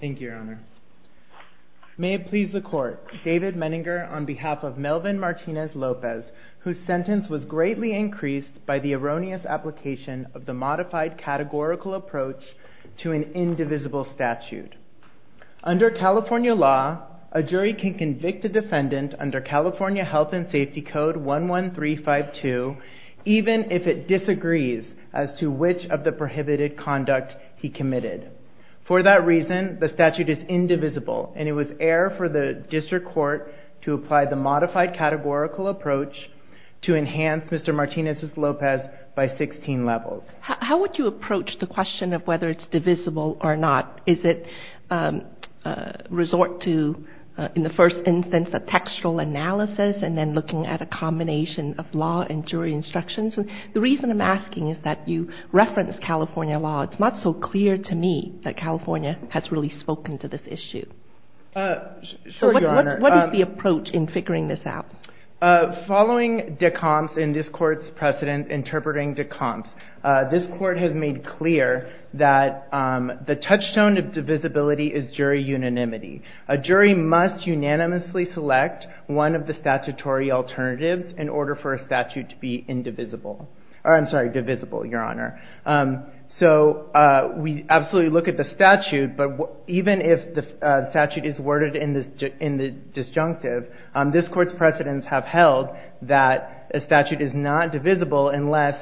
Thank you, Your Honor. May it please the Court, David Menninger on behalf of Melvin Martinez-Lopez, whose sentence was greatly increased by the erroneous application of the modified categorical approach to an indivisible statute. Under California law, a jury can convict a defendant under California Health and Safety Code 11352, even if it disagrees as to which of the prohibited conduct he committed. For that reason, the statute is indivisible, and it was air for the District Court to apply the modified categorical approach to enhance Mr. Martinez-Lopez by 16 levels. How would you approach the question of whether it's divisible or not? Is it resort to, in the first instance, a textual analysis, and then looking at a combination of law and jury instructions? The reason I'm asking is that you reference California law. It's not so clear to me that California has really spoken to this issue. So what is the approach in figuring this out? Following de Compte's and this Court's precedent interpreting de Compte's, this Court has made clear that the touchstone of divisibility is jury unanimity. A jury must unanimously select one of the statutory alternatives in order for a statute to be indivisible. I'm sorry, divisible, Your Honor. So we absolutely look at the statute, but even if the statute is worded in the disjunctive, this Court's precedents have held that a statute is not divisible unless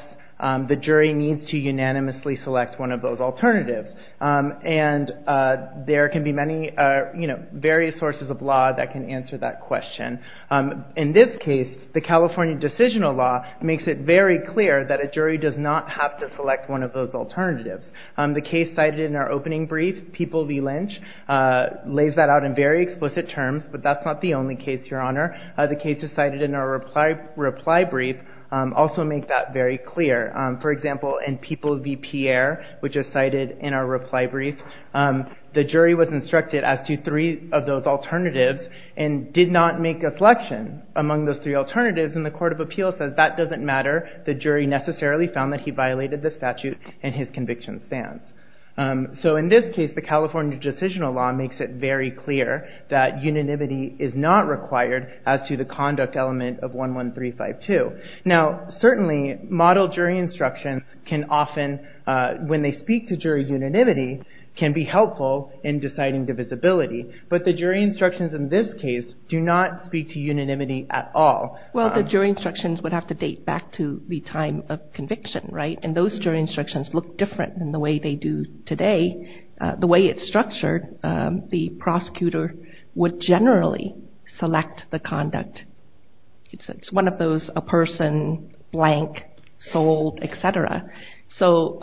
the jury needs to unanimously select one of those alternatives. And there can be many, you know, various sources of law that can answer that question. In this case, the California decisional law makes it very clear that a jury does not have to select one of those alternatives. The case cited in our opening brief, People v. Lynch, lays that out in very explicit terms, but that's not the only case, Your Honor. The cases cited in our reply brief also make that very clear. For example, in People v. Pierre, which is cited in our reply brief, the jury was instructed as to three of those alternatives and did not make a selection among those three alternatives. The case cited in the Court of Appeals says that doesn't matter. The jury necessarily found that he violated the statute in his conviction stance. So in this case, the California decisional law makes it very clear that unanimity is not required as to the conduct element of 11352. Now, certainly, model jury instructions can often, when they speak to jury unanimity, can be helpful in deciding divisibility. But the jury instructions in this case do not speak to unanimity at all. Well, the jury instructions would have to date back to the time of conviction, right? And those jury instructions look different than the way they do today. The way it's structured, the prosecutor would generally select the conduct. It's one of those a person, blank, sold, et cetera. So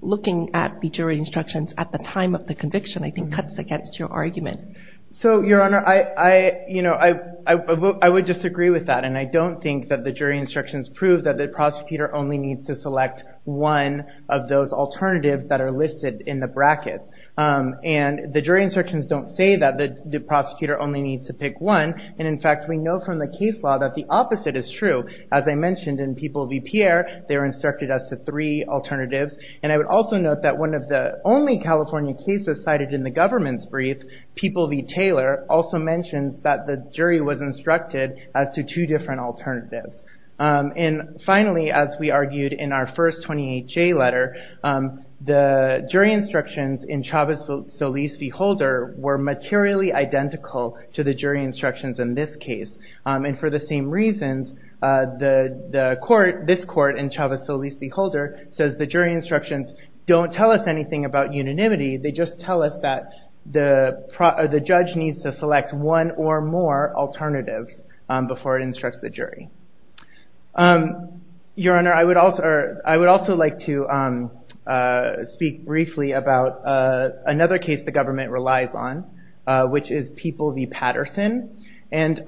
looking at the jury instructions at the time of the conviction, I think, cuts against your argument. So, Your Honor, I would disagree with that. And I don't think that the jury instructions prove that the prosecutor only needs to select one of those alternatives that are listed in the brackets. And the jury instructions don't say that the prosecutor only needs to pick one. And, in fact, we know from the case law that the opposite is true. As I mentioned, in People v. Pierre, they were instructed as to three alternatives. And I would also note that one of the only California cases cited in the government's brief, People v. Taylor, also mentions that the jury was instructed as to two different alternatives. And, finally, as we argued in our first 28J letter, the jury instructions in Chavez-Solis v. Holder were materially identical to the jury instructions in this case. And for the same reasons, this court in Chavez-Solis v. Holder says the jury instructions don't tell us anything about unanimity. They just tell us that the judge needs to select one or more alternatives before it instructs the jury. Your Honor, I would also like to speak briefly about another case the government relies on, which is People v. Patterson. And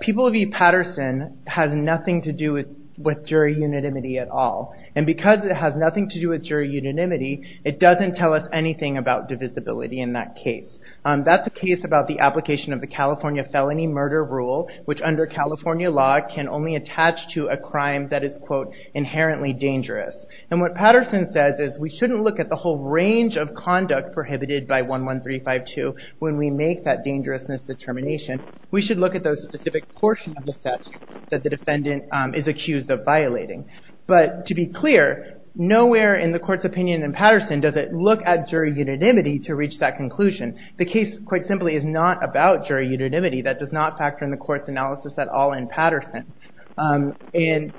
People v. Patterson has nothing to do with jury unanimity at all. And because it has nothing to do with jury unanimity, it doesn't tell us anything about divisibility in that case. That's a case about the application of the California felony murder rule, which under California law can only attach to a crime that is, quote, inherently dangerous. And what Patterson says is we shouldn't look at the whole range of conduct prohibited by 11352 when we make that dangerousness determination. We should look at those specific portions of the statute that the defendant is accused of violating. But to be clear, nowhere in the court's opinion in Patterson does it look at jury unanimity to reach that conclusion. The case, quite simply, is not about jury unanimity. That does not factor in the court's analysis at all in Patterson. And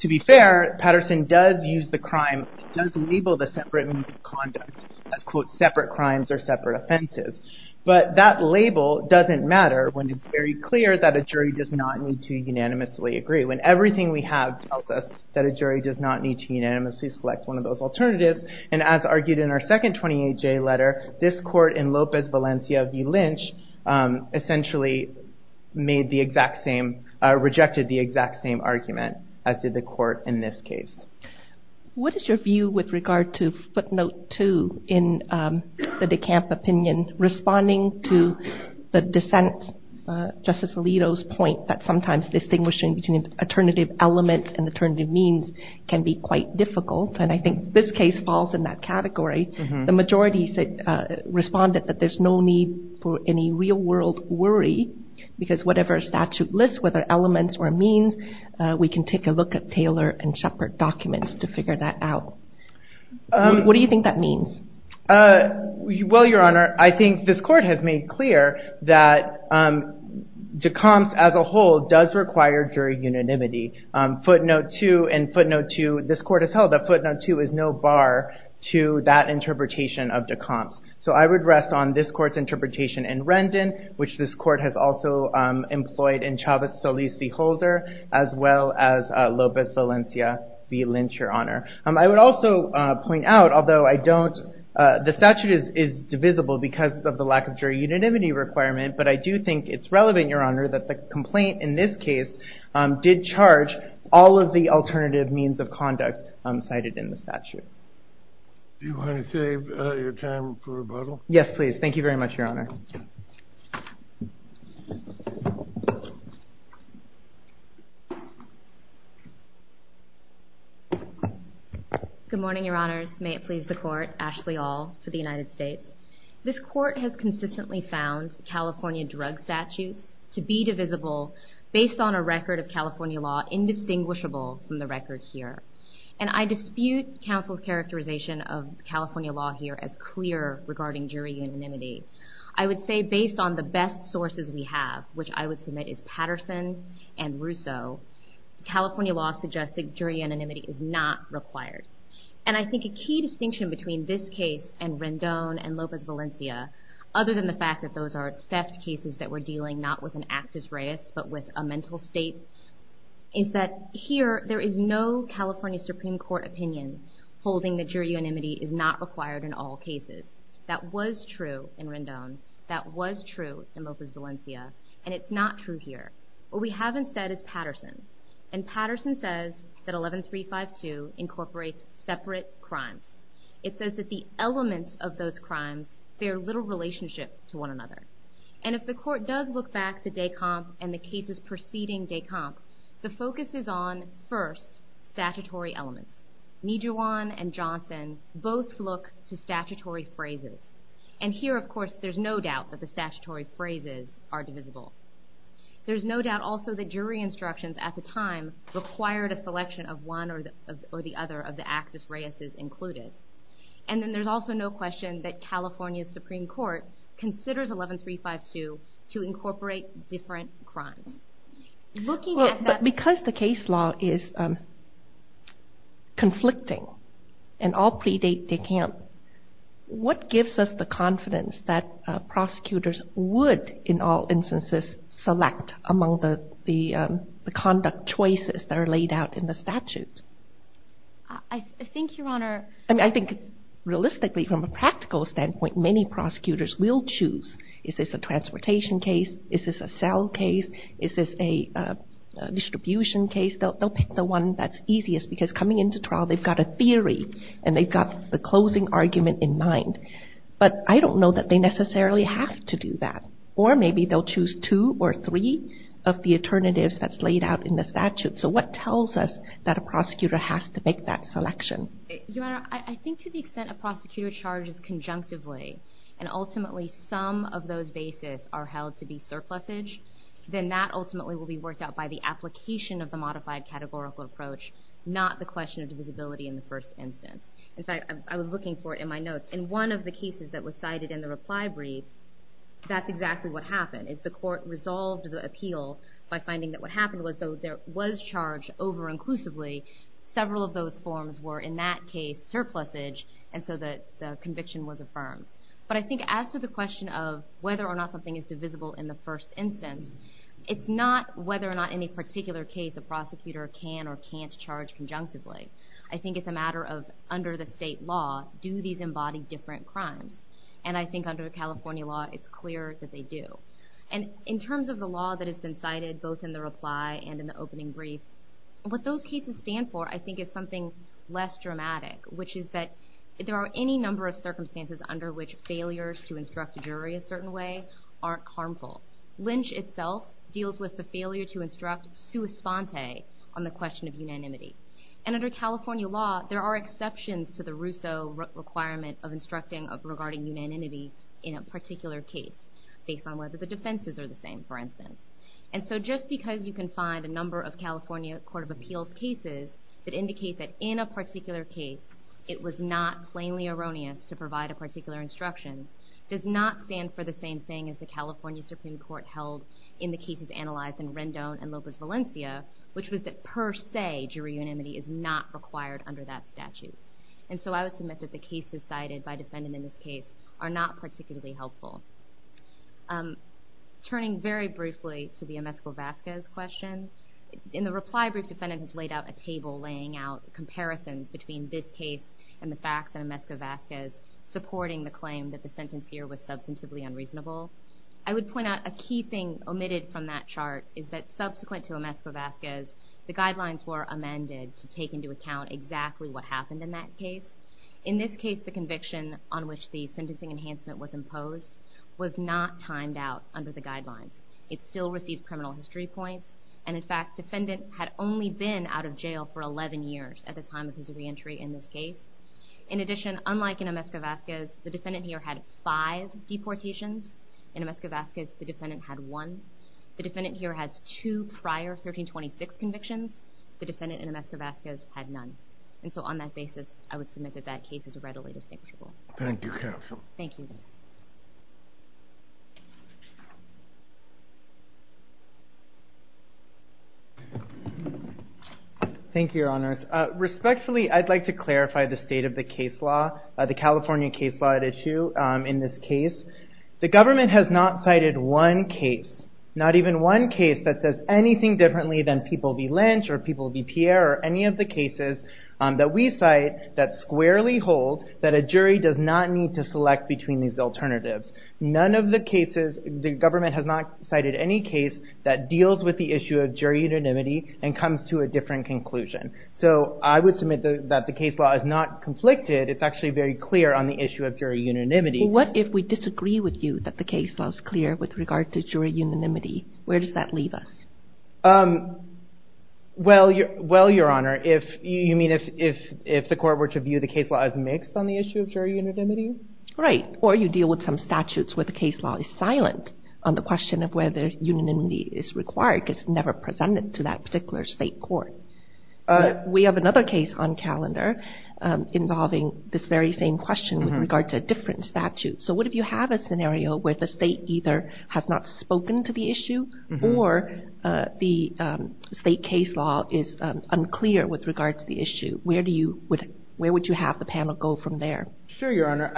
to be fair, Patterson does use the crime, does label the separate means of conduct as, quote, separate crimes or separate offenses. But that label doesn't matter when it's very clear that a jury does not need to unanimously agree. When everything we have tells us that a jury does not need to unanimously select one of those alternatives, and as argued in our second 28J letter, this court in Lopez Valencia v. Lynch essentially made the exact same, rejected the exact same argument as did the court in this case. What is your view with regard to footnote 2 in the DeCamp opinion, responding to the dissent, Justice Alito's point that sometimes distinguishing between alternative elements and alternative means can be quite difficult, and I think this case falls in that category. The majority responded that there's no need for any real-world worry, because whatever a statute lists, whether elements or means, we can take a look at Taylor and Shepard documents to figure that out. What do you think that means? Well, Your Honor, I think this court has made clear that DeCamps as a whole does require jury unanimity. Footnote 2 and footnote 2, this court has held that footnote 2 is no bar to that interpretation of DeCamps. So I would rest on this court's interpretation in Rendon, which this court has also employed in Chavez-Solis v. Holder, as well as Lopez Valencia v. Lynch, Your Honor. I would also point out, although the statute is divisible because of the lack of jury unanimity requirement, but I do think it's relevant, Your Honor, that the complaint in this case did charge all of the alternative means of conduct cited in the statute. Do you want to save your time for rebuttal? Yes, please. Thank you very much, Your Honor. Good morning, Your Honors. May it please the Court, Ashley Aul for the United States. This court has consistently found California drug statutes to be divisible based on a record of California law indistinguishable from the record here. And I dispute counsel's characterization of California law here as clear regarding jury unanimity. I would say based on the best sources we have, which I would submit is Patterson and Russo, California law suggests that jury unanimity is not required. And I think a key distinction between this case and Rendon and Lopez Valencia, other than the fact that those are theft cases that we're dealing not with an actus reus, but with a mental state, is that here there is no California Supreme Court opinion holding that jury unanimity is not required in all cases. That was true in Rendon. That was true in Lopez Valencia. And it's not true here. What we have instead is Patterson. And Patterson says that 11352 incorporates separate crimes. It says that the elements of those crimes bear little relationship to one another. And if the Court does look back to Descamps and the cases preceding Descamps, the focus is on, first, statutory elements. Nijhuan and Johnson both look to statutory phrases. And here, of course, there's no doubt that the statutory phrases are divisible. There's no doubt also that jury instructions at the time required a selection of one or the other of the actus reuses included. And then there's also no question that California Supreme Court considers 11352 to incorporate different crimes. But because the case law is conflicting and all predate Descamps, what gives us the confidence that prosecutors would, in all instances, select among the conduct choices that are laid out in the statute? I think, Your Honor — I mean, I think realistically, from a practical standpoint, many prosecutors will choose, is this a transportation case, is this a cell case, is this a distribution case? They'll pick the one that's easiest, because coming into trial, they've got a theory and they've got the closing argument in mind. But I don't know that they necessarily have to do that. Or maybe they'll choose two or three of the alternatives that's laid out in the statute. So what tells us that a prosecutor has to make that selection? Your Honor, I think to the extent a prosecutor charges conjunctively, and ultimately some of those bases are held to be surplusage, then that ultimately will be worked out by the application of the modified categorical approach, not the question of divisibility in the first instance. In fact, I was looking for it in my notes. In one of the cases that was cited in the reply brief, that's exactly what happened, is the court resolved the appeal by finding that what happened was, though there was charge over inclusively, several of those forms were in that case surplusage, and so the conviction was affirmed. But I think as to the question of whether or not something is divisible in the first instance, it's not whether or not in a particular case a prosecutor can or can't charge conjunctively. I think it's a matter of, under the state law, do these embody different crimes? And I think under California law, it's clear that they do. And in terms of the law that has been cited, both in the reply and in the opening brief, what those cases stand for, I think, is something less dramatic, which is that there are any number of circumstances under which failures to instruct a jury a certain way aren't harmful. Lynch itself deals with the failure to instruct sua sponte on the question of unanimity. And under California law, there are exceptions to the Rousseau requirement of instructing regarding unanimity in a particular case, based on whether the defenses are the same, for instance. And so just because you can find a number of California Court of Appeals cases that indicate that in a particular case it was not plainly erroneous to provide a particular instruction, does not stand for the same thing as the California Supreme Court held in the cases analyzed in Rendon and Lopez Valencia, which was that per se jury unanimity is not required under that statute. And so I would submit that the cases cited by defendant in this case are not particularly helpful. Turning very briefly to the Amesco-Vazquez question, in the reply brief, defendant has laid out a table laying out comparisons between this case and the fact that Amesco-Vazquez supporting the claim that the sentence here was substantively unreasonable. I would point out a key thing omitted from that chart is that subsequent to Amesco-Vazquez, the guidelines were amended to take into account exactly what happened in that case. In this case, the conviction on which the sentencing enhancement was imposed was not timed out under the guidelines. It still received criminal history points. And in fact, defendant had only been out of jail for 11 years at the time of his reentry in this case. In addition, unlike in Amesco-Vazquez, the defendant here had five deportations. In Amesco-Vazquez, the defendant had one. The defendant here has two prior 1326 convictions. The defendant in Amesco-Vazquez had none. And so on that basis, I would submit that that case is readily distinguishable. Thank you, Counsel. Thank you. Thank you, Your Honors. Respectfully, I'd like to clarify the state of the case law, the California case law at issue in this case. The government has not cited one case, not even one case, that says anything differently than People v. Lynch or People v. Pierre or any of the cases that we cite that squarely hold that a jury does not need to select between these alternatives. None of the cases, the government has not cited any case that deals with the issue of jury unanimity and comes to a different conclusion. So I would submit that the case law is not conflicted. It's actually very clear on the issue of jury unanimity. What if we disagree with you that the case law is clear with regard to jury unanimity? Where does that leave us? Well, Your Honor, you mean if the court were to view the case law as mixed on the issue of jury unanimity? Right. Or you deal with some statutes where the case law is silent on the question of whether unanimity is required, because it's never presented to that particular state court. We have another case on calendar involving this very same question with regard to a different statute. So what if you have a scenario where the state either has not spoken to the issue or the state case law is unclear with regard to the issue? Where would you have the panel go from there? Sure, Your Honor.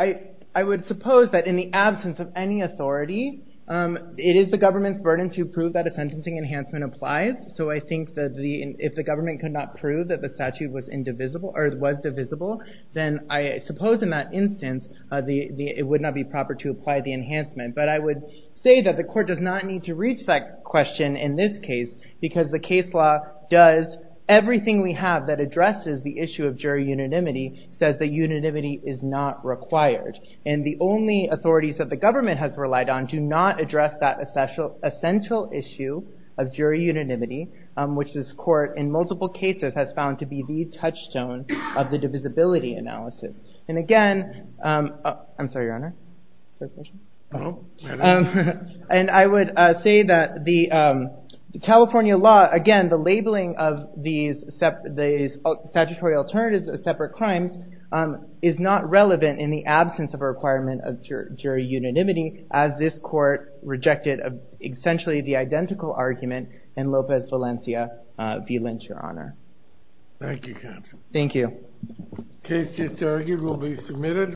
I would suppose that in the absence of any authority, it is the government's burden to prove that a sentencing enhancement applies. So I think that if the government could not prove that the statute was divisible, then I suppose in that instance it would not be proper to apply the enhancement. But I would say that the court does not need to reach that question in this case because the case law does everything we have that addresses the issue of jury unanimity, says that unanimity is not required. And the only authorities that the government has relied on do not address that essential issue of jury unanimity, which this court in multiple cases has found to be the touchstone of the divisibility analysis. And again, I'm sorry, Your Honor. And I would say that the California law, again, the labeling of these statutory alternatives as separate crimes is not relevant in the absence of a requirement of jury unanimity as this court rejected essentially the identical argument in Lopez Valencia v. Lynch, Your Honor. Thank you, Captain. Thank you. Case disargued will be submitted.